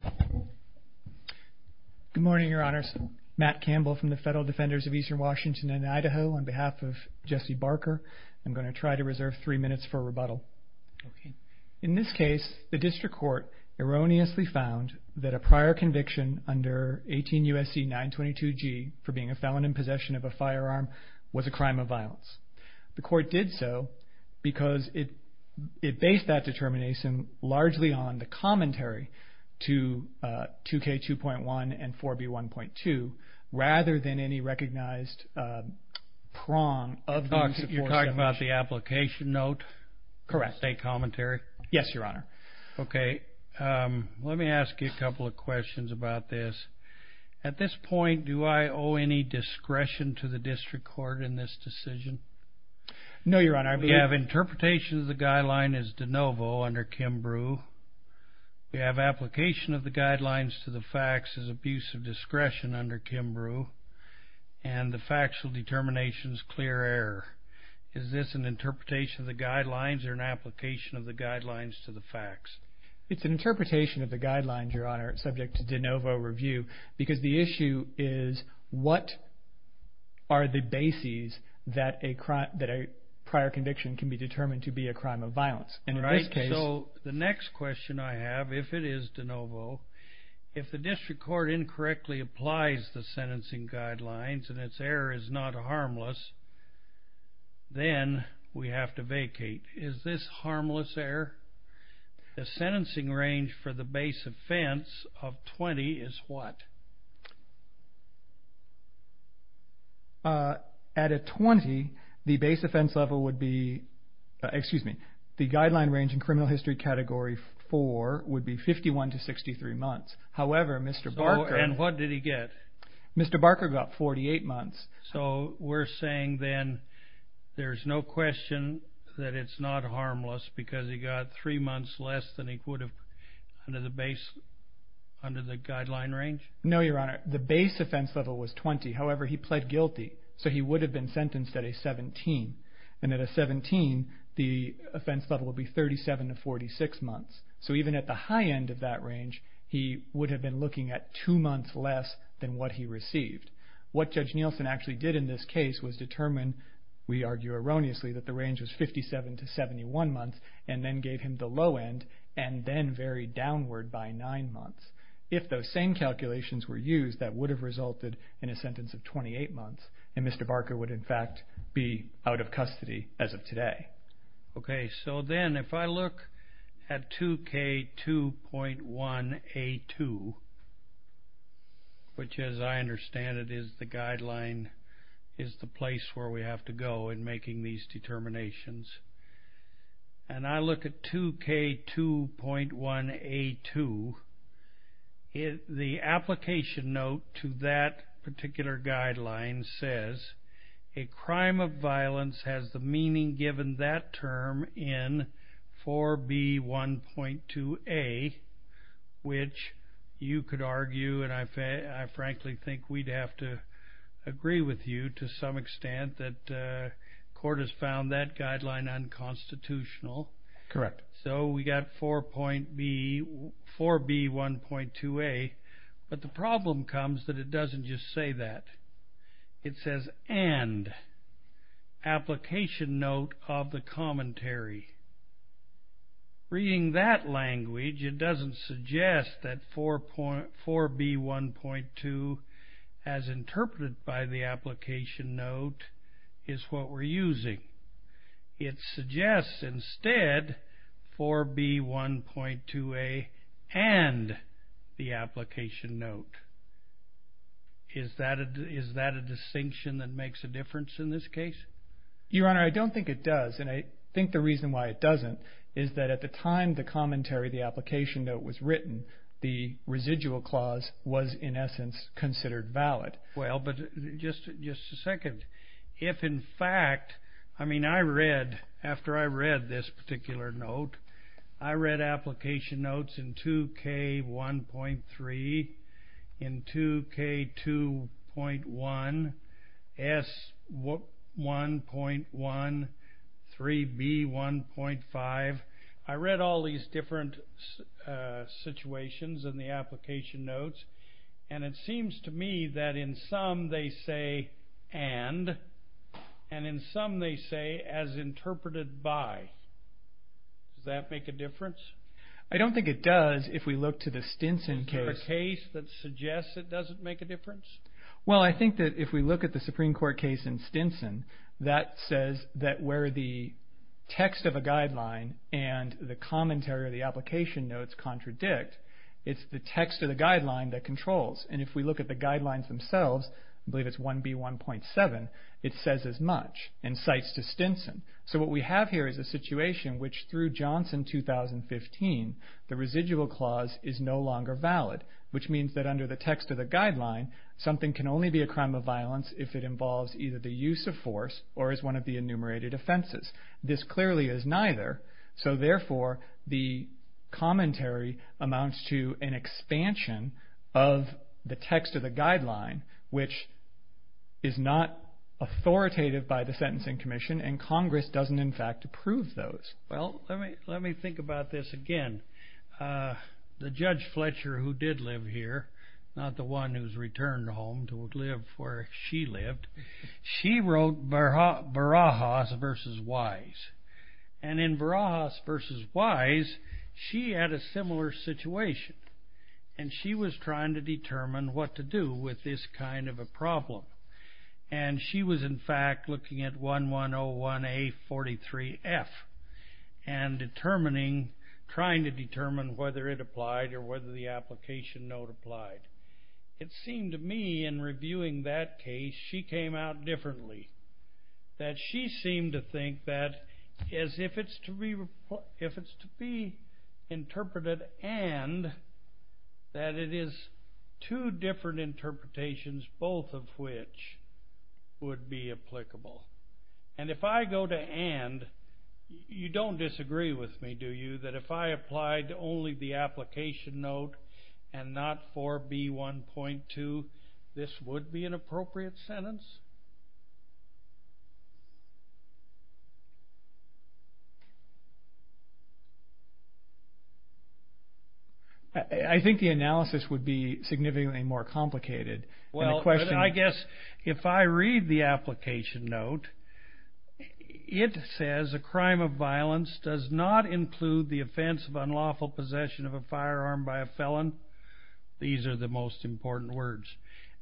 good morning your honors Matt Campbell from the Federal Defenders of Eastern Washington and Idaho on behalf of Jesse Barker I'm going to try to reserve three minutes for rebuttal. In this case the district court erroneously found that a prior conviction under 18 U.S.C. 922G for being a felon in possession of a firearm was a crime of violence. The court did so because it based that determination largely on the commentary to the defense attorney's testimony. U.S.C. 922G has been in 2K2.1 and 4B1.2 rather than any recognized prong. You're talking about the application note? Correct. A commentary? Yes your honor. Okay let me ask you a couple of questions about this. At this point do I owe any discretion to the district court in this decision? No your honor. We have interpretation of the guidelines to the facts as abuse of discretion under Kimbrough and the factual determinations clear error. Is this an interpretation of the guidelines or an application of the guidelines to the facts? It's an interpretation of the guidelines your honor subject to de novo review because the issue is what are the bases that a prior conviction can be determined to be a crime of If the district court incorrectly applies the sentencing guidelines and its error is not harmless then we have to vacate. Is this harmless error? The sentencing range for the base offense of 20 is what? At a 20 the base offense level would be excuse months however Mr. Barker got 48 months. So we're saying then there's no question that it's not harmless because he got three months less than he would have under the base under the guideline range? No your honor the base offense level was 20 however he pled guilty so he would have been sentenced at a 17 and at a 17 the offense level would be 37 to 46 months so even at the high end of he would have been looking at two months less than what he received. What Judge Nielsen actually did in this case was determine we argue erroneously that the range is 57 to 71 months and then gave him the low end and then very downward by nine months. If those same calculations were used that would have resulted in a sentence of 28 months and Mr. Barker would in fact be out of which as I understand it is the guideline is the place where we have to go in making these determinations and I look at 2k 2.1 a2 is the application note to that particular guideline says a crime of violence has the meaning given that term in 4b 1.2 a which you could argue and I say I frankly think we'd have to agree with you to some extent that court has found that guideline unconstitutional. Correct. So we got 4.b 4b 1.2 a but the problem comes that it the commentary. Reading that language it doesn't suggest that 4.4 b 1.2 as interpreted by the application note is what we're using. It suggests instead 4b 1.2 a and the application note. Is that a distinction that makes a case? Your honor I don't think it does and I think the reason why it doesn't is that at the time the commentary the application note was written the residual clause was in essence considered valid. Well but just just a second if in fact I mean I read after I read this particular note I read application notes in 2k 1.3 in 2k 2.1 s 1.1 3b 1.5 I read all these different situations in the application notes and it seems to me that in some they say and and in some they say as interpreted by. Does that make a difference? I don't think it does if we look to the Stinson case. Is there a case that suggests it doesn't make a difference? Well I think that if we look at the Supreme Court case in Stinson that says that where the text of a guideline and the commentary of the application notes contradict it's the text of the guideline that controls and if we look at the guidelines themselves I believe it's 1b 1.7 it says as much and cites to Stinson. So what we have here is a situation which through Johnson 2015 the residual clause is no longer valid which means that under the text of the guideline something can only be a crime of violence if it involves either the use of force or is one of the enumerated offenses. This clearly is neither so therefore the commentary amounts to an expansion of the text of the guideline which is not authoritative by the Sentencing Commission and Congress doesn't in fact approve those. Well let me think about this again. The judge Fletcher who did live here, not the one who's returned home to live where she lived, she wrote Barajas versus Wise and in Barajas versus Wise she had a similar situation and she was trying to determine what to do with this kind of a problem and she was in fact looking at 1101 A 43 F and determining, trying to determine whether it applied or whether the application note applied. It seemed to me in reviewing that case she came out differently. That she seemed to think that as if it's to be interpreted and that it is two different interpretations both of which would be applicable. And if I go to and you don't disagree with me that if I applied only the application note and not 4B 1.2 this would be an appropriate sentence? I think the analysis would be significantly more complicated. Well I guess if I read the application note it says a crime of violence does not include the offense of unlawful possession of a firearm by a felon. These are the most important words.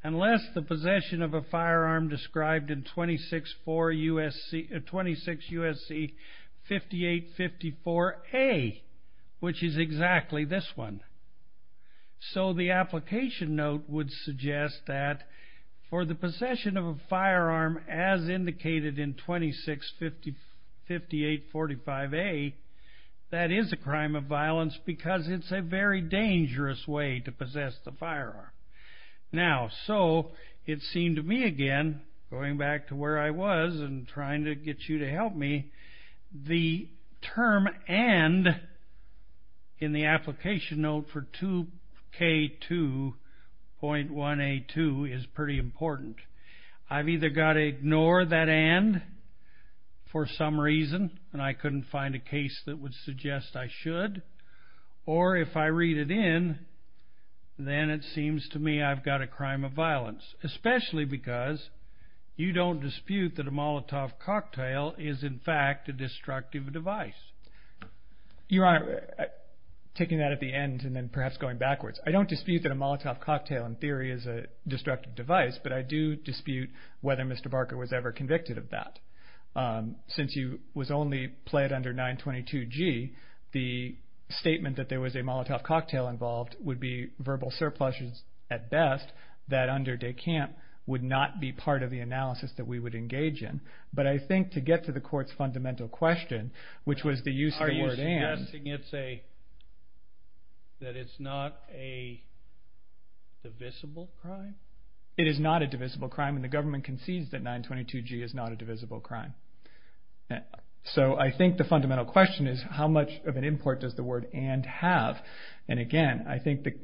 Unless the possession of a firearm described in 26 U.S.C. 5854 A which is exactly this one. So the application note would suggest that for the possession of a firearm as indicated in 26 5845 A that is a crime of violence because it's a very dangerous way to possess the firearm. Now so it seemed to me again going back to where I was and trying to get you to help me. The term and in the application note for 2 K 2.1 A 2 is pretty important. I've either got to ignore that and for some reason and I couldn't find a case that would suggest I should or if I read it in then it seems to me I've got a crime of violence especially because you don't dispute that a Molotov cocktail is in fact a destructive device. Your honor taking that at the end and then perhaps going backwards I don't dispute that a Molotov cocktail in destructive device but I do dispute whether Mr. Barker was ever convicted of that. Since you was only pled under 922 G the statement that there was a Molotov cocktail involved would be verbal surpluses at best that under de Camp would not be part of the analysis that we would engage in. But I think to get to the court's fundamental question which was the use of the word and I think it's a that it's not a divisible crime. It is not a divisible crime and the government concedes that 922 G is not a divisible crime. So I think the fundamental question is how much of an import does the word and have and again I think that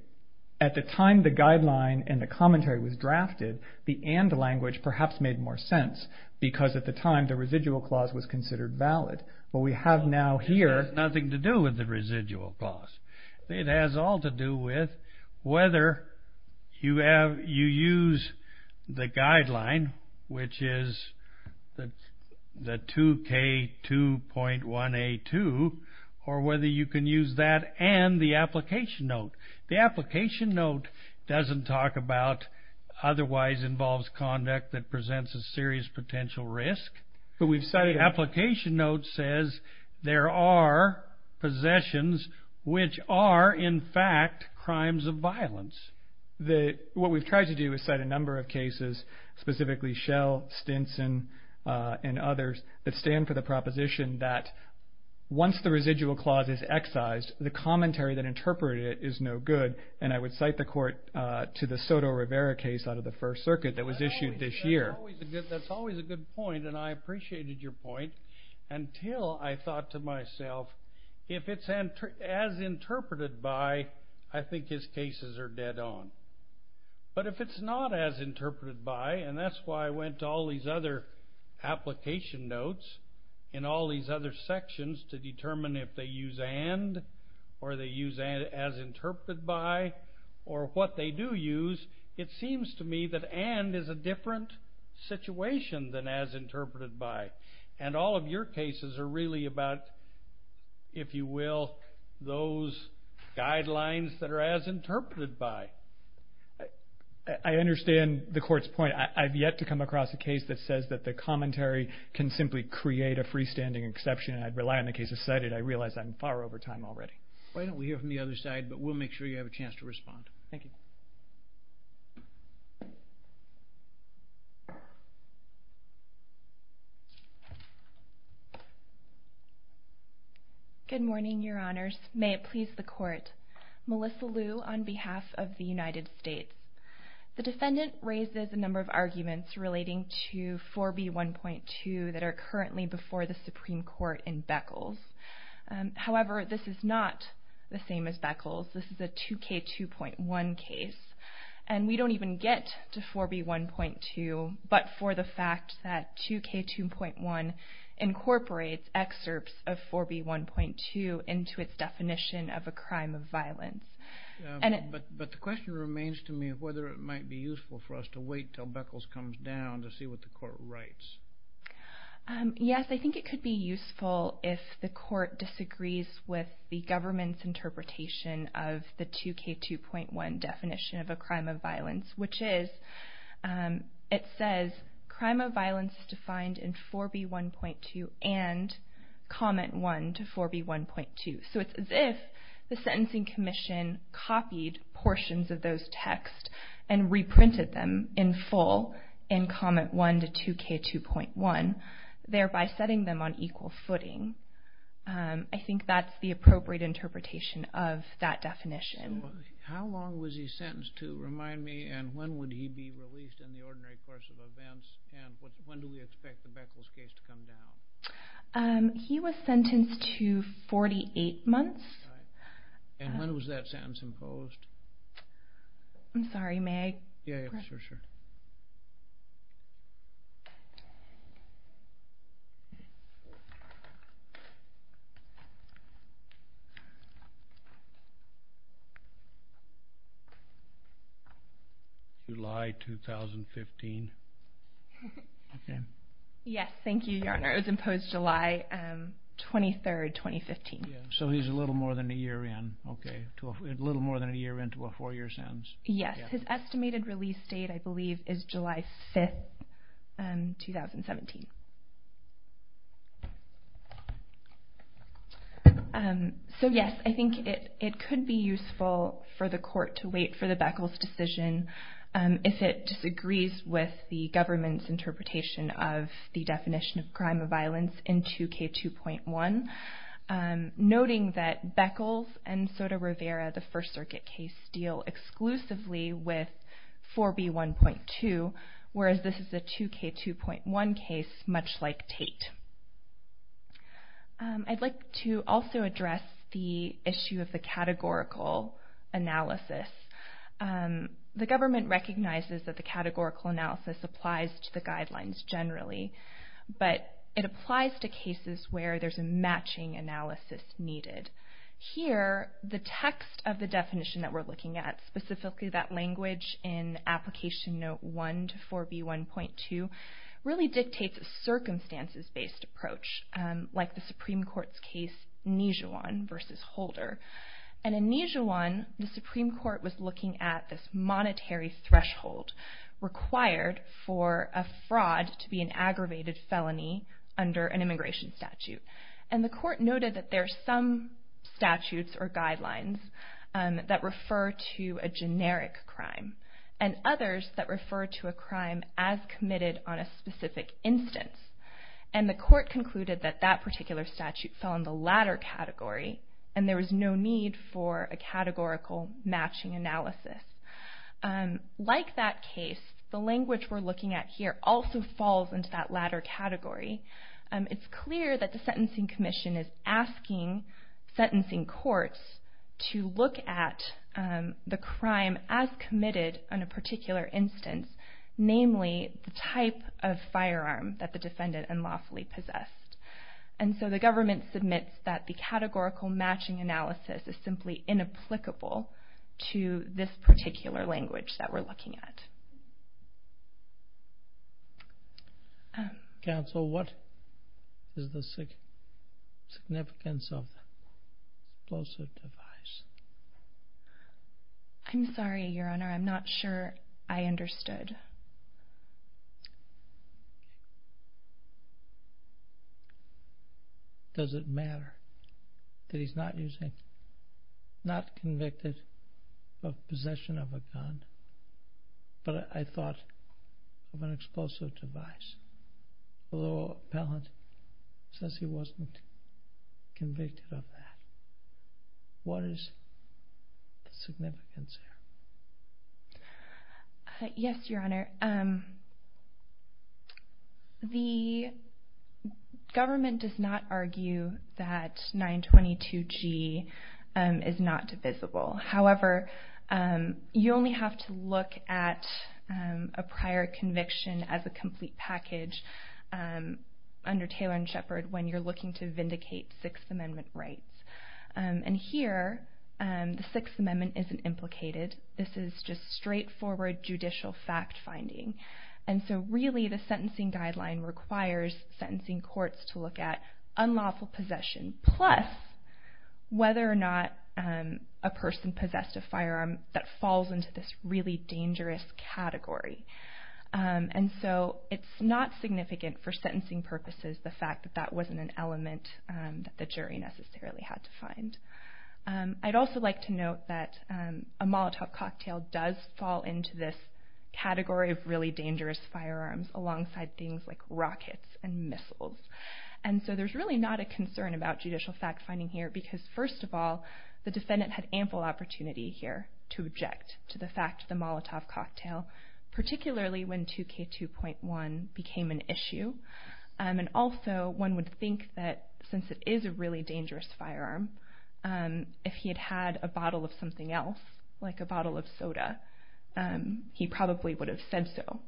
at the time the guideline and the commentary was drafted the and language perhaps made more sense because at the time the residual clause was to do with the residual clause. It has all to do with whether you have you use the guideline which is that the 2k 2.182 or whether you can use that and the application note. The application note doesn't talk about otherwise involves conduct that presents a serious potential risk but we've studied application note says there are possessions which are in fact crimes of violence. What we've tried to do is cite a number of cases specifically Shell, Stinson and others that stand for the proposition that once the residual clause is excised the commentary that interpreted is no good and I would cite the court to the Soto Rivera case out of the First Circuit that was issued this point and I appreciated your point until I thought to myself if it's as interpreted by I think his cases are dead on but if it's not as interpreted by and that's why I went to all these other application notes in all these other sections to determine if they use and or they use and as interpreted by or what they do use it seems to me that and is a different situation than as interpreted by and all of your cases are really about if you will those guidelines that are as interpreted by. I understand the court's point I've yet to come across a case that says that the commentary can simply create a freestanding exception I'd rely on the case of cited I realize I'm far over time already. Why don't we hear from the other side but we'll make sure you have a chance to speak. Good morning your honors may it please the court Melissa Liu on behalf of the United States the defendant raises a number of arguments relating to 4b 1.2 that are currently before the Supreme Court in Beckles however this is not the case and we don't even get to 4b 1.2 but for the fact that 2k 2.1 incorporates excerpts of 4b 1.2 into its definition of a crime of violence and but the question remains to me of whether it might be useful for us to wait till Beckles comes down to see what the court writes. Yes I think it could be useful if the court disagrees with the government's definition of a crime of violence which is it says crime of violence is defined in 4b 1.2 and comment 1 to 4b 1.2 so it's as if the sentencing commission copied portions of those text and reprinted them in full in comment 1 to 2k 2.1 thereby setting them on equal footing I think that's the appropriate interpretation of that definition how long was he sentenced to remind me and when would he be released in the ordinary course of events and when do we expect the Beckles case to come down he was sentenced to 48 months and when was that sentence imposed I'm sorry may I yeah sure sure July 2015 yes thank you your honor it was imposed July 23rd 2015 so he's a little more than a year in okay to a little more than a year into a four year sentence yes his estimated release date I believe is July 5th and 2017 so yes I think it it could be useful for the court to wait for the Beckles decision if it disagrees with the government's interpretation of the definition of crime of violence in 2k 2.1 noting that Beckles and Soto Rivera the First Circuit case deal exclusively with 4b 1.2 whereas this is a 2k 2.1 much like Tate I'd like to also address the issue of the categorical analysis the government recognizes that the categorical analysis applies to the guidelines generally but it applies to cases where there's a matching analysis needed here the text of the definition that we're looking at specifically that case note 1 to 4b 1.2 really dictates a circumstances-based approach like the Supreme Court's case Nijuan versus Holder and in Nijuan the Supreme Court was looking at this monetary threshold required for a fraud to be an aggravated felony under an immigration statute and the court noted that there are some that refer to a crime as committed on a specific instance and the court concluded that that particular statute fell in the latter category and there was no need for a categorical matching analysis like that case the language we're looking at here also falls into that latter category it's clear that the Sentencing Commission is asking sentencing courts to look at the crime as committed on a particular instance namely the type of firearm that the defendant and lawfully possessed and so the government submits that the categorical matching analysis is simply inapplicable to this particular language that we're looking at Counsel what is the significance of explosive device? I'm sorry your honor I'm not sure I understood. Does it matter that he's not using not convicted of explosive device although appellant says he wasn't convicted of that. What is the significance here? Yes your honor the government does not argue that 922 G is not divisible however you only have to look at a prior conviction as a complete package under Taylor and Shepard when you're looking to vindicate Sixth Amendment rights and here the Sixth Amendment isn't implicated this is just straightforward judicial fact-finding and so really the sentencing guideline requires sentencing courts to look at unlawful possession plus whether or not a person possessed a firearm that falls into this really dangerous category and so it's not significant for sentencing purposes the fact that that wasn't an element that the jury necessarily had to find. I'd also like to note that a Molotov cocktail does fall into this category of really dangerous firearms alongside things like rockets and missiles and so there's really not a concern about judicial fact-finding here because first of all the defendant had ample opportunity here to object to the fact the Molotov cocktail particularly when 2k 2.1 became an issue and also one would think that since it is a really dangerous firearm and if he had had a bottle of something else like a bottle of soda he probably would have said so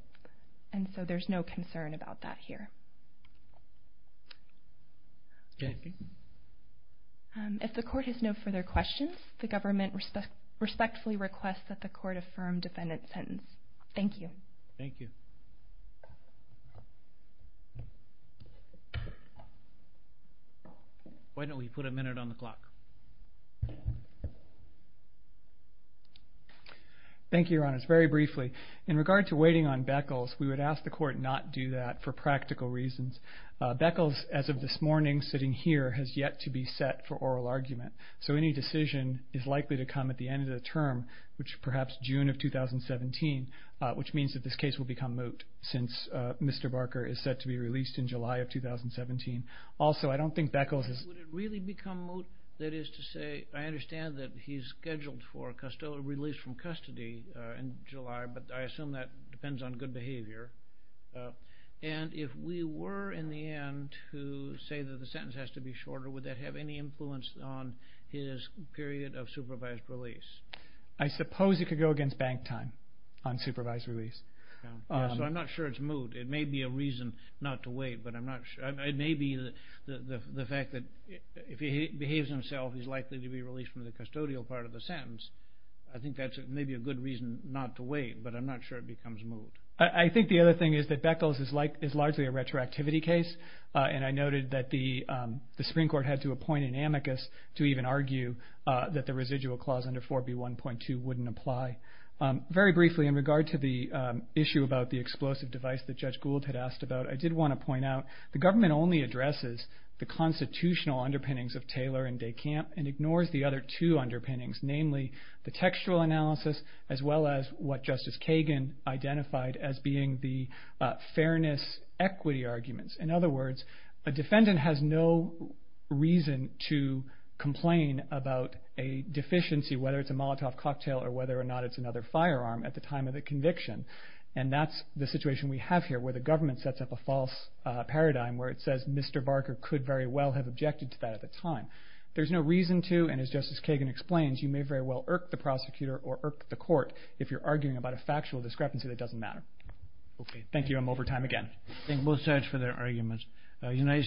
and so there's no concern about that here. If the court has no further questions the government respectfully requests that the court affirm defendant's sentence. Thank you. Thank you. Why don't we put a minute on the clock. Thank you Your Honors. Very briefly in regard to waiting on Beckles we would ask the court not do that for practical reasons. Beckles as of this morning sitting here has yet to be set for oral argument so any decision is likely to come at the end of the term which perhaps June of 2017 which means that this case will become moot since Mr. Barker is set to be released in July of 2017. Also I don't think Beckles is... Would it really become moot that is to say I understand that he's scheduled for release from custody in July but I assume that depends on good behavior and if we were in the end to say that the sentence has to be shorter would that have any influence on his period of supervised release? I suppose it could go against bank time on supervised release. So I'm not sure it's moot. It may be a reason not to wait but I'm not sure. It may be the fact that if he behaves himself he's likely to be released from the custodial part of the sentence. I think that's maybe a good reason not to wait but I'm not sure it becomes moot. I think the other thing is that Beckles is largely a retroactivity case and I noted that the Supreme Court had to appoint an amicus to even argue that the residual clause under 4b 1.2 wouldn't apply. Very briefly in regard to the issue about the explosive device that Judge Gould had asked about I did want to point out the government only addresses the constitutional underpinnings of Taylor and DeCamp and ignores the other two underpinnings namely the textual analysis as well as what Justice Kagan identified as being the fairness equity arguments. In other words a defendant has no reason to complain about a deficiency whether it's a Molotov cocktail or whether or not it's another firearm at the time of the conviction and that's the situation we have here where the government sets up a false paradigm where it says Mr. Barker could very well have objected to that at the time. There's no reason to and as Justice Kagan explains you may very well irk the prosecutor or irk the court if you're arguing about a factual discrepancy that doesn't matter. Okay thank you I'm over time again. Thank both sides for their arguments. United